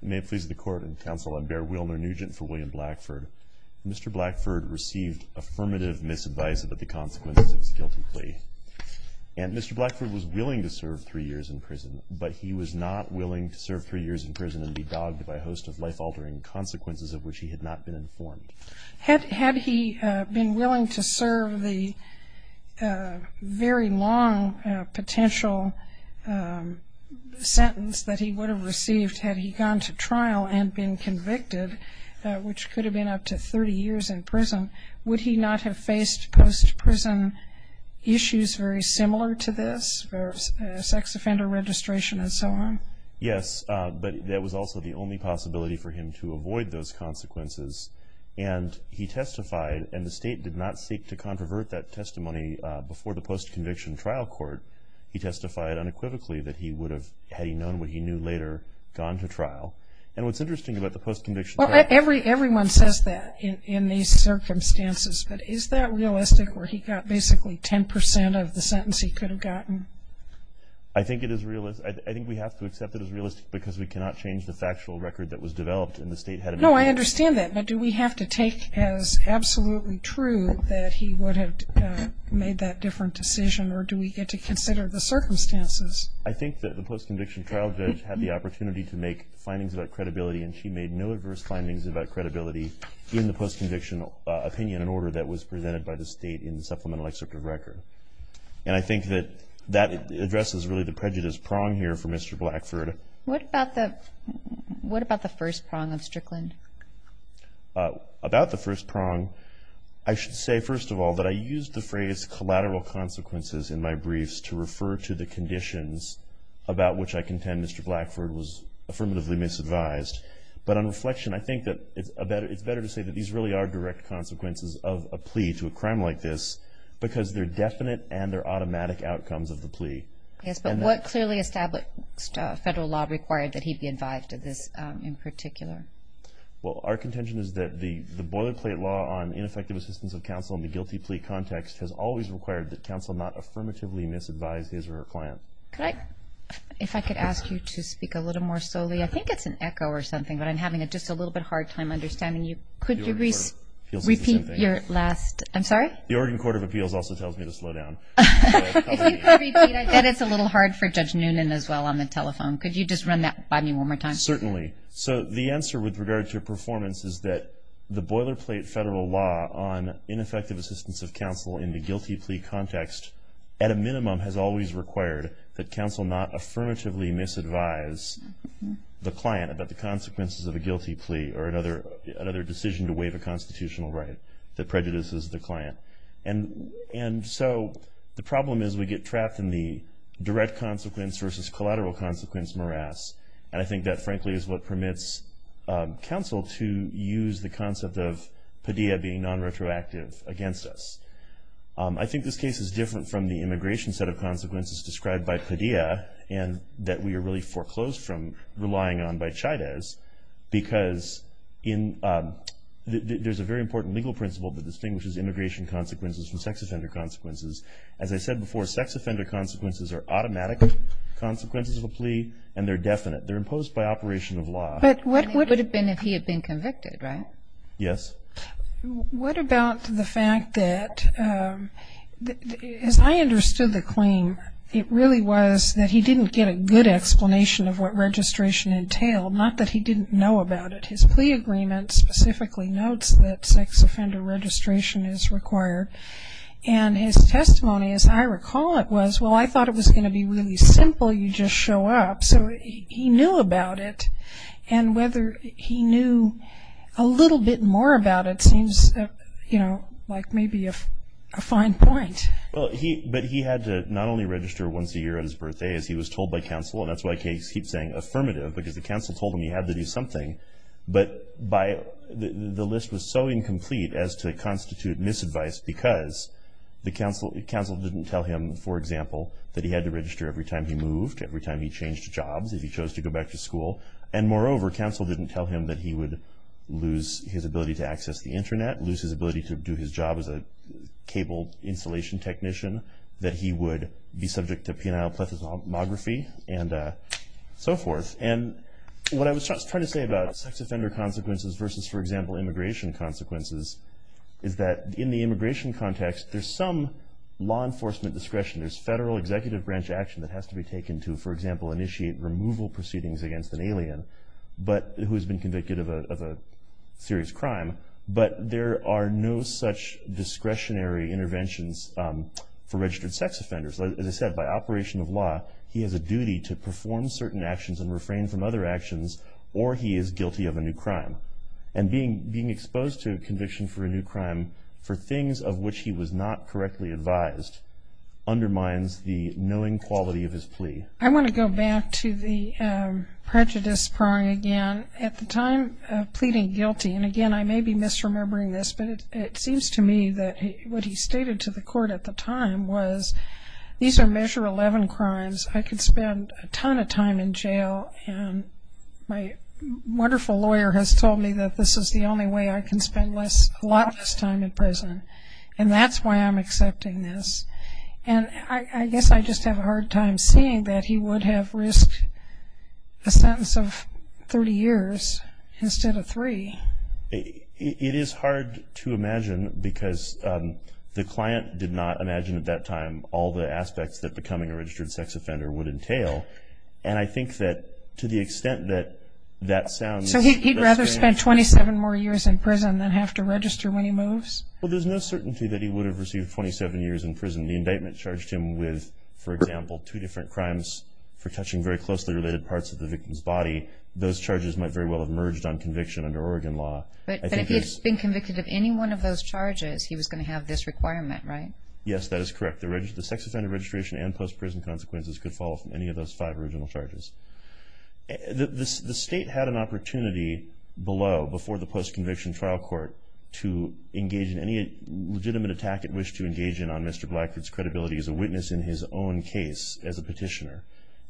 May it please the Court and Counsel, I'm Bear Wilner, Nugent for William Blackford. Mr. Blackford received affirmative misadvice about the consequences of his guilty plea. And Mr. Blackford was willing to serve three years in prison, but he was not willing to serve three years in prison and be dogged by a host of life-altering consequences of which he had not been informed. Had he been willing to serve the very long potential sentence that he would have received had he gone to trial and been convicted, which could have been up to 30 years in prison, would he not have faced post-prison issues very similar to this, sex offender registration and so on? Yes, but that was also the only possibility for him to avoid those consequences. And he testified and the state did not seek to controvert that testimony before the post-conviction trial court. He testified unequivocally that he would have, had he known what he knew later, gone to trial. And what's interesting about the post-conviction trial court Well, everyone says that in these circumstances, but is that realistic where he got basically 10% of the sentence he could have gotten? I think it is realistic. I think we have to accept it as realistic because we cannot change the factual record that was developed No, I understand that. But do we have to take as absolutely true that he would have made that different decision or do we get to consider the circumstances? I think that the post-conviction trial judge had the opportunity to make findings about credibility and she made no adverse findings about credibility in the post-conviction opinion and order that was presented by the state in the supplemental excerpt of record. And I think that that addresses really the prejudice prong here for Mr. Blackford. What about the first prong of Strickland? About the first prong, I should say, first of all, that I used the phrase collateral consequences in my briefs to refer to the conditions about which I contend Mr. Blackford was affirmatively misadvised. But on reflection, I think that it's better to say that these really are direct consequences of a plea to a crime like this because they're definite and they're automatic outcomes of the plea. Yes, but what clearly established federal law required that he be advised of this in particular? Well, our contention is that the boilerplate law on ineffective assistance of counsel in the guilty plea context has always required that counsel not affirmatively misadvise his or her client. If I could ask you to speak a little more solely, I think it's an echo or something, but I'm having just a little bit of a hard time understanding you. Could you repeat your last, I'm sorry? The Oregon Court of Appeals also tells me to slow down. If you could repeat, I bet it's a little hard for Judge Noonan as well on the telephone. Could you just run that by me one more time? Certainly. So the answer with regard to performance is that the boilerplate federal law on ineffective assistance of counsel in the guilty plea context at a minimum has always required that counsel not affirmatively misadvise the client about the consequences of a guilty plea or another decision to waive a constitutional right that prejudices the client. And so the problem is we get trapped in the direct consequence versus collateral consequence morass, and I think that frankly is what permits counsel to use the concept of Padilla being nonretroactive against us. I think this case is different from the immigration set of consequences described by Padilla and that we are really foreclosed from relying on by Chaydez because there's a very important legal principle that distinguishes immigration consequences from sex offender consequences. As I said before, sex offender consequences are automatic consequences of a plea and they're definite. They're imposed by operation of law. But what would it have been if he had been convicted, right? Yes. What about the fact that, as I understood the claim, it really was that he didn't get a good explanation of what registration entailed, not that he didn't know about it. His plea agreement specifically notes that sex offender registration is required. And his testimony, as I recall it, was, well, I thought it was going to be really simple. You just show up. So he knew about it. And whether he knew a little bit more about it seems, you know, like maybe a fine point. But he had to not only register once a year on his birthday, as he was told by counsel, and that's why he keeps saying affirmative because the counsel told him he had to do something, but the list was so incomplete as to constitute misadvice because the counsel didn't tell him, for example, that he had to register every time he moved, every time he changed jobs, if he chose to go back to school. And, moreover, counsel didn't tell him that he would lose his ability to access the Internet, lose his ability to do his job as a cable installation technician, that he would be subject to penile plethysmography and so forth. And what I was trying to say about sex offender consequences versus, for example, immigration consequences, is that in the immigration context, there's some law enforcement discretion. There's federal executive branch action that has to be taken to, for example, initiate removal proceedings against an alien who has been convicted of a serious crime. But there are no such discretionary interventions for registered sex offenders. As I said, by operation of law, he has a duty to perform certain actions and refrain from other actions, or he is guilty of a new crime. And being exposed to conviction for a new crime for things of which he was not correctly advised undermines the knowing quality of his plea. I want to go back to the prejudice prong again. At the time of pleading guilty, and, again, I may be misremembering this, but it seems to me that what he stated to the court at the time was, these are measure 11 crimes. I could spend a ton of time in jail, and my wonderful lawyer has told me that this is the only way I can spend a lot less time in prison, and that's why I'm accepting this. And I guess I just have a hard time seeing that he would have risked a sentence of 30 years instead of three. It is hard to imagine because the client did not imagine at that time all the aspects that becoming a registered sex offender would entail, and I think that to the extent that that sounds. So he'd rather spend 27 more years in prison than have to register when he moves? Well, there's no certainty that he would have received 27 years in prison. The indictment charged him with, for example, two different crimes for touching very closely related parts of the victim's body. Those charges might very well have merged on conviction under Oregon law. But if he had been convicted of any one of those charges, he was going to have this requirement, right? Yes, that is correct. The sex offender registration and post-prison consequences could follow from any of those five original charges. The state had an opportunity below, before the post-conviction trial court, to engage in any legitimate attack it wished to engage in on Mr. Blackford's credibility as a witness in his own case as a petitioner.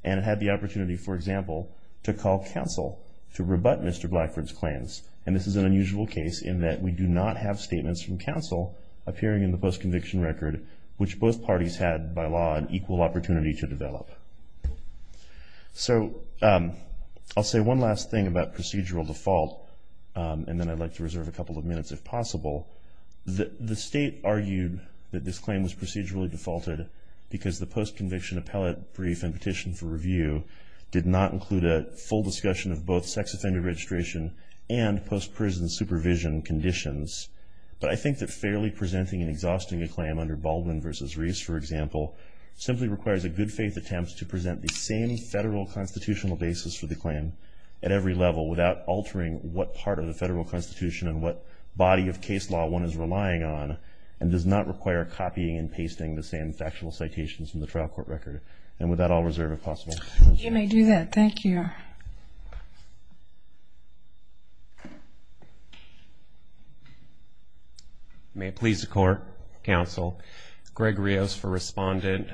And it had the opportunity, for example, to call counsel to rebut Mr. Blackford's claims. And this is an unusual case in that we do not have statements from counsel appearing in the post-conviction record, which both parties had, by law, an equal opportunity to develop. So I'll say one last thing about procedural default, and then I'd like to reserve a couple of minutes if possible. The state argued that this claim was procedurally defaulted because the post-conviction appellate brief and petition for review did not include a full discussion of both sex offender registration and post-prison supervision conditions. But I think that fairly presenting and exhausting a claim under Baldwin v. Reese, for example, simply requires a good faith attempt to present the same federal constitutional basis for the claim at every level without altering what part of the federal constitution and what body of case law one is relying on, and does not require copying and pasting the same factual citations from the trial court record. And with that, I'll reserve if possible. You may do that. Thank you. Thank you. May it please the court, counsel. Greg Rios for respondent,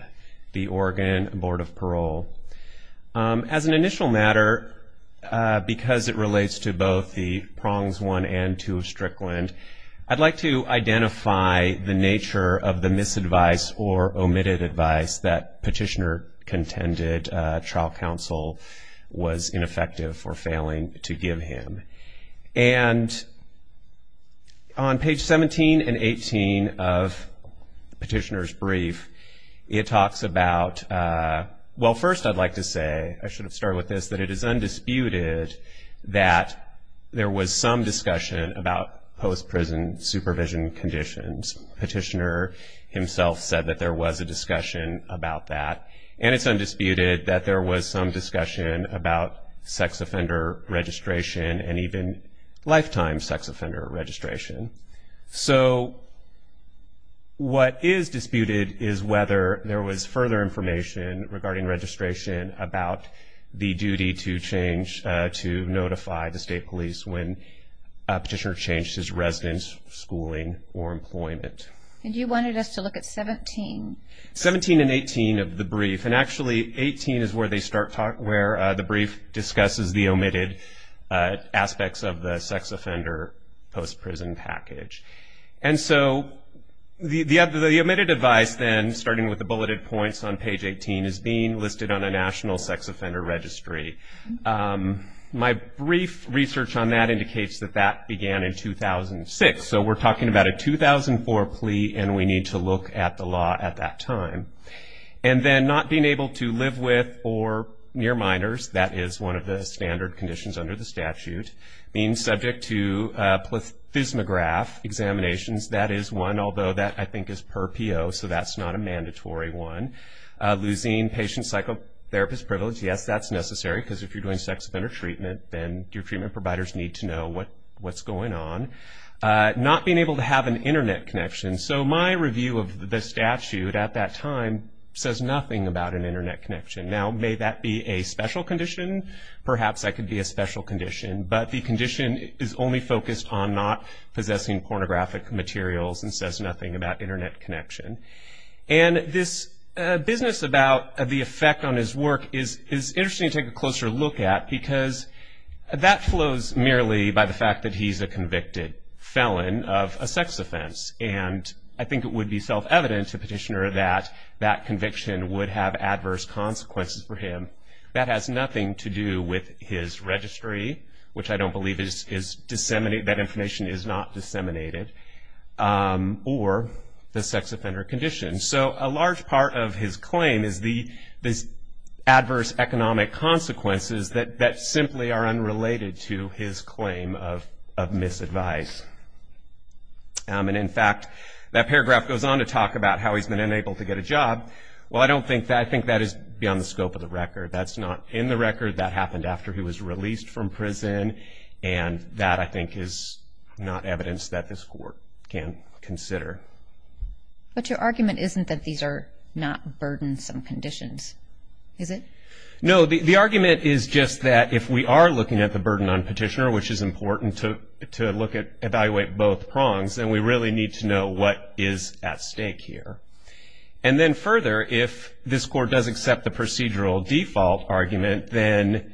the Oregon Board of Parole. As an initial matter, because it relates to both the prongs one and two of Strickland, I'd like to identify the nature of the misadvice or omitted advice that Petitioner contended trial counsel was ineffective for failing to give him. And on page 17 and 18 of Petitioner's brief, it talks about, well, first I'd like to say, I should have started with this, that it is undisputed that there was some discussion about post-prison supervision conditions. Petitioner himself said that there was a discussion about that. And it's undisputed that there was some discussion about sex offender registration and even lifetime sex offender registration. So what is disputed is whether there was further information regarding registration about the duty to change, to notify the state police when Petitioner changed his residence, schooling, or employment. And you wanted us to look at 17. 17 and 18 of the brief. And actually 18 is where they start talking, where the brief discusses the omitted aspects of the sex offender post-prison package. And so the omitted advice then, starting with the bulleted points on page 18, is being listed on a national sex offender registry. My brief research on that indicates that that began in 2006. So we're talking about a 2004 plea, and we need to look at the law at that time. And then not being able to live with or near minors. That is one of the standard conditions under the statute. Being subject to plethysmograph examinations. That is one, although that I think is per P.O., so that's not a mandatory one. Losing patient psychotherapist privilege. Yes, that's necessary, because if you're doing sex offender treatment, then your treatment providers need to know what's going on. Not being able to have an Internet connection. So my review of the statute at that time says nothing about an Internet connection. Now, may that be a special condition? Perhaps that could be a special condition. But the condition is only focused on not possessing pornographic materials and says nothing about Internet connection. And this business about the effect on his work is interesting to take a closer look at, because that flows merely by the fact that he's a convicted felon of a sex offense. And I think it would be self-evident to Petitioner that that conviction would have adverse consequences for him. That has nothing to do with his registry, which I don't believe is disseminated. That information is not disseminated. Or the sex offender condition. So a large part of his claim is the adverse economic consequences that simply are unrelated to his claim of misadvice. And, in fact, that paragraph goes on to talk about how he's been unable to get a job. Well, I don't think that. I think that is beyond the scope of the record. That's not in the record. That happened after he was released from prison. And that, I think, is not evidence that this Court can consider. But your argument isn't that these are not burdensome conditions, is it? No. The argument is just that if we are looking at the burden on Petitioner, which is important to evaluate both prongs, then we really need to know what is at stake here. And then further, if this Court does accept the procedural default argument, then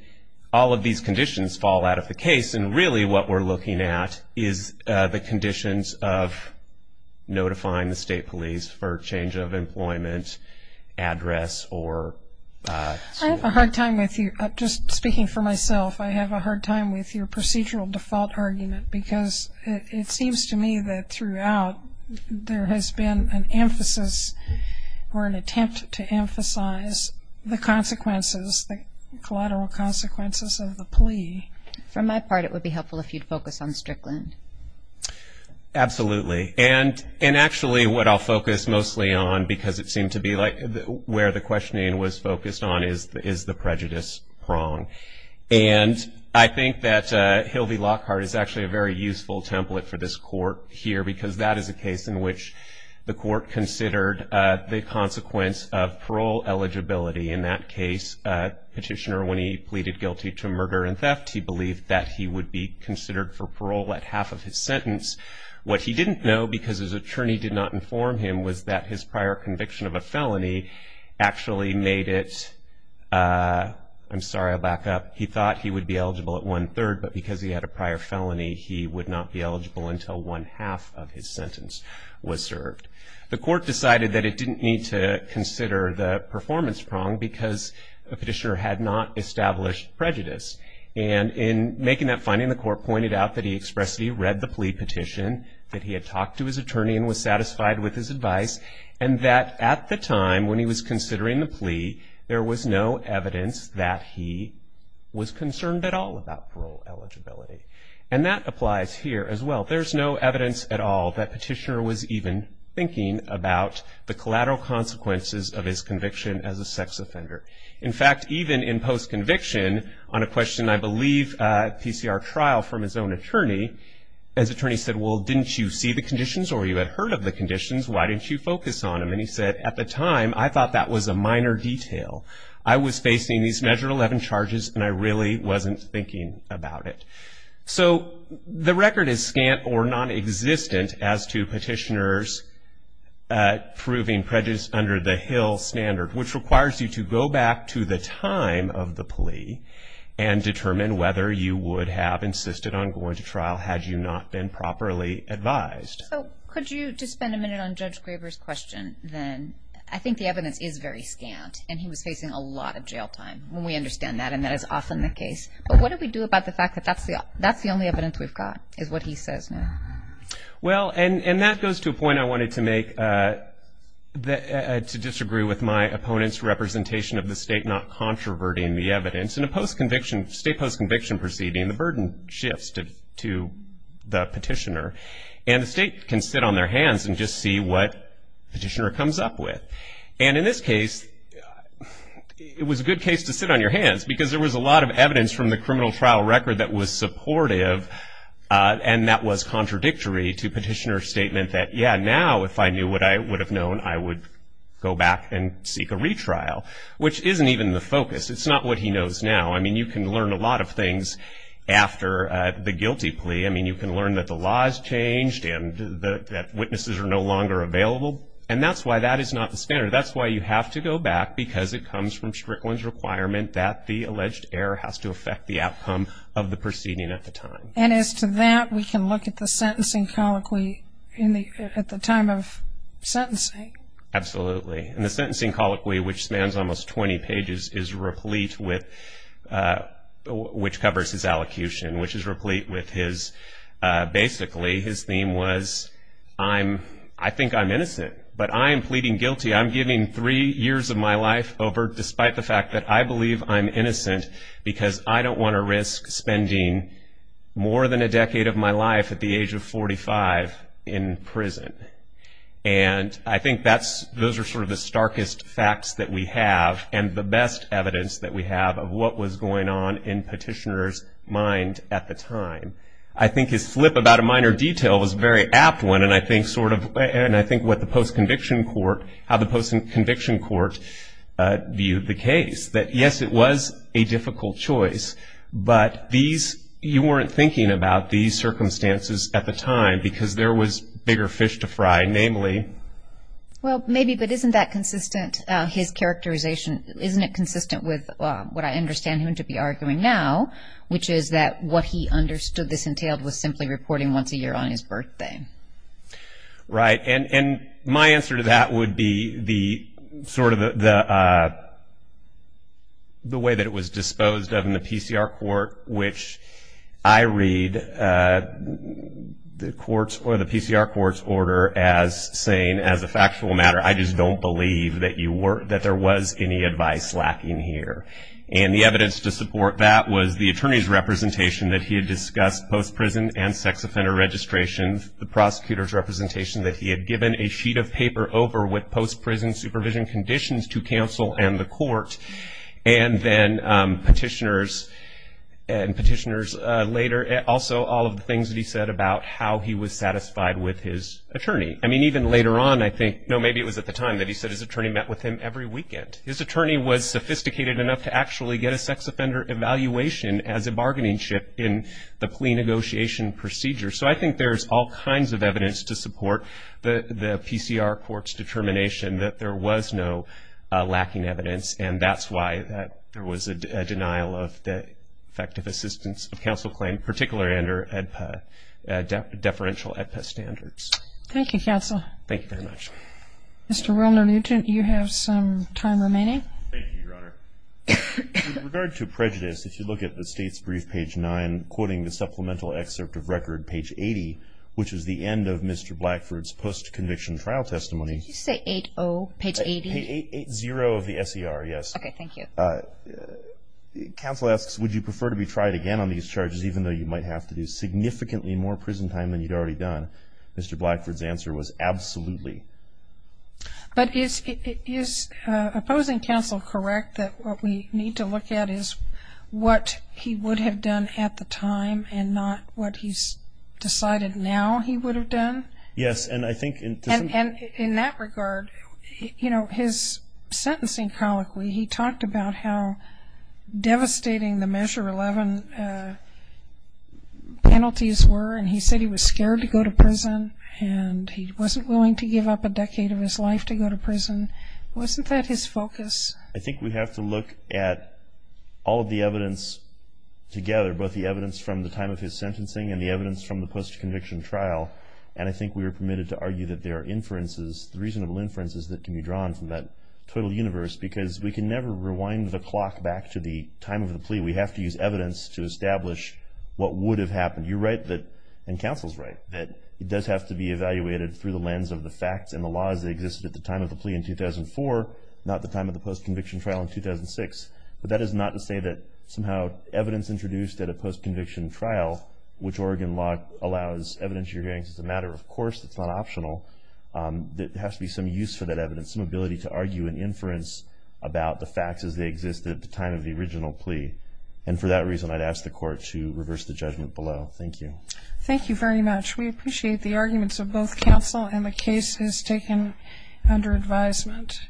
all of these conditions fall out of the case. And really what we're looking at is the conditions of notifying the State Police for change of employment, address or... I have a hard time with you. Just speaking for myself, I have a hard time with your procedural default argument. Because it seems to me that throughout there has been an emphasis or an attempt to emphasize the consequences, the collateral consequences of the plea. From my part, it would be helpful if you'd focus on Strickland. Absolutely. And actually what I'll focus mostly on, because it seemed to be where the questioning was focused on, is the prejudice prong. And I think that Hilvey Lockhart is actually a very useful template for this Court here, because that is a case in which the Court considered the consequence of parole eligibility. In that case, Petitioner, when he pleaded guilty to murder and theft, he believed that he would be considered for parole at half of his sentence. What he didn't know, because his attorney did not inform him, was that his prior conviction of a felony actually made it... I'll back up. He thought he would be eligible at one-third, but because he had a prior felony, he would not be eligible until one-half of his sentence was served. The Court decided that it didn't need to consider the performance prong, because Petitioner had not established prejudice. And in making that finding, the Court pointed out that he expressed that he read the plea petition, that he had talked to his attorney and was satisfied with his advice, and that at the time when he was considering the plea, there was no evidence that he was concerned at all about parole eligibility. And that applies here as well. There's no evidence at all that Petitioner was even thinking about the collateral consequences of his conviction as a sex offender. In fact, even in post-conviction, on a question, I believe, at a PCR trial from his own attorney, his attorney said, well, didn't you see the conditions or you had heard of the conditions? Why didn't you focus on them? And he said, at the time, I thought that was a minor detail. I was facing these Measure 11 charges, and I really wasn't thinking about it. So the record is scant or nonexistent as to Petitioner's proving prejudice under the Hill standard, which requires you to go back to the time of the plea and determine whether you would have insisted on going to trial had you not been properly advised. So could you just spend a minute on Judge Graber's question then? I think the evidence is very scant, and he was facing a lot of jail time. We understand that, and that is often the case. But what do we do about the fact that that's the only evidence we've got is what he says now? Well, and that goes to a point I wanted to make to disagree with my opponent's representation of the State not controverting the evidence. In a state post-conviction proceeding, the burden shifts to the Petitioner, and the State can sit on their hands and just see what Petitioner comes up with. And in this case, it was a good case to sit on your hands because there was a lot of evidence from the criminal trial record that was supportive, and that was contradictory to Petitioner's statement that, yeah, now if I knew what I would have known, I would go back and seek a retrial, which isn't even the focus. It's not what he knows now. I mean, you can learn a lot of things after the guilty plea. I mean, you can learn that the law has changed and that witnesses are no longer available, and that's why that is not the standard. That's why you have to go back because it comes from Strickland's requirement that the alleged error has to affect the outcome of the proceeding at the time. And as to that, we can look at the sentencing colloquy at the time of sentencing. Absolutely. And the sentencing colloquy, which spans almost 20 pages, is replete with what covers his allocution, which is replete with his basically his theme was, I think I'm innocent, but I am pleading guilty. I'm giving three years of my life over despite the fact that I believe I'm innocent because I don't want to risk spending more than a decade of my life at the age of 45 in prison. And I think those are sort of the starkest facts that we have and the best evidence that we have of what was going on in Petitioner's mind at the time. I think his flip about a minor detail was a very apt one, and I think what the post-conviction court, how the post-conviction court viewed the case, that, yes, it was a difficult choice, but you weren't thinking about these circumstances at the time because there was bigger fish to fry, namely. Well, maybe, but isn't that consistent, his characterization, isn't it consistent with what I understand him to be arguing now, which is that what he understood this entailed was simply reporting once a year on his birthday. Right. And my answer to that would be sort of the way that it was disposed of in the PCR court, which I read the courts or the PCR court's order as saying, as a factual matter, I just don't believe that there was any advice lacking here. And the evidence to support that was the attorney's representation that he had discussed post-prison and sex offender registrations, the prosecutor's representation that he had given a sheet of paper over with post-prison supervision conditions to counsel and the court, and then petitioners and petitioners later, also all of the things that he said about how he was satisfied with his attorney. I mean, even later on, I think, no, maybe it was at the time that he said his attorney met with him every weekend. His attorney was sophisticated enough to actually get a sex offender evaluation as a bargaining chip in the plea negotiation procedure. So I think there's all kinds of evidence to support the PCR court's determination that there was no lacking evidence, and that's why there was a denial of the effective assistance of counsel claim, particularly under ADPA, deferential ADPA standards. Thank you, counsel. Thank you very much. Mr. Wilner-Newton, you have some time remaining. Thank you, Your Honor. With regard to prejudice, if you look at the State's brief, page 9, quoting the supplemental excerpt of record, page 80, which is the end of Mr. Blackford's post-conviction trial testimony. Did you say 8-0, page 80? 8-0 of the SER, yes. Okay, thank you. Counsel asks, would you prefer to be tried again on these charges, even though you might have to do significantly more prison time than you'd already done? Mr. Blackford's answer was, absolutely. But is opposing counsel correct that what we need to look at is what he would have done at the time and not what he's decided now he would have done? Yes, and I think in that regard, you know, his sentencing colloquy, he talked about how devastating the Measure 11 penalties were, and he said he was scared to go to prison and he wasn't willing to give up a decade of his life to go to prison. Wasn't that his focus? I think we have to look at all of the evidence together, both the evidence from the time of his sentencing and the evidence from the post-conviction trial, and I think we are permitted to argue that there are inferences, reasonable inferences that can be drawn from that total universe because we can never rewind the clock back to the time of the plea. We have to use evidence to establish what would have happened. You're right, and counsel's right, that it does have to be evaluated through the lens of the facts and the laws that existed at the time of the plea in 2004, not the time of the post-conviction trial in 2006. But that is not to say that somehow evidence introduced at a post-conviction trial, which Oregon law allows evidence to be introduced as a matter of course, that's not optional. There has to be some use for that evidence, some ability to argue an inference about the facts as they existed at the time of the original plea. And for that reason, I'd ask the Court to reverse the judgment below. Thank you. Thank you very much. We appreciate the arguments of both counsel and the cases taken under advisement.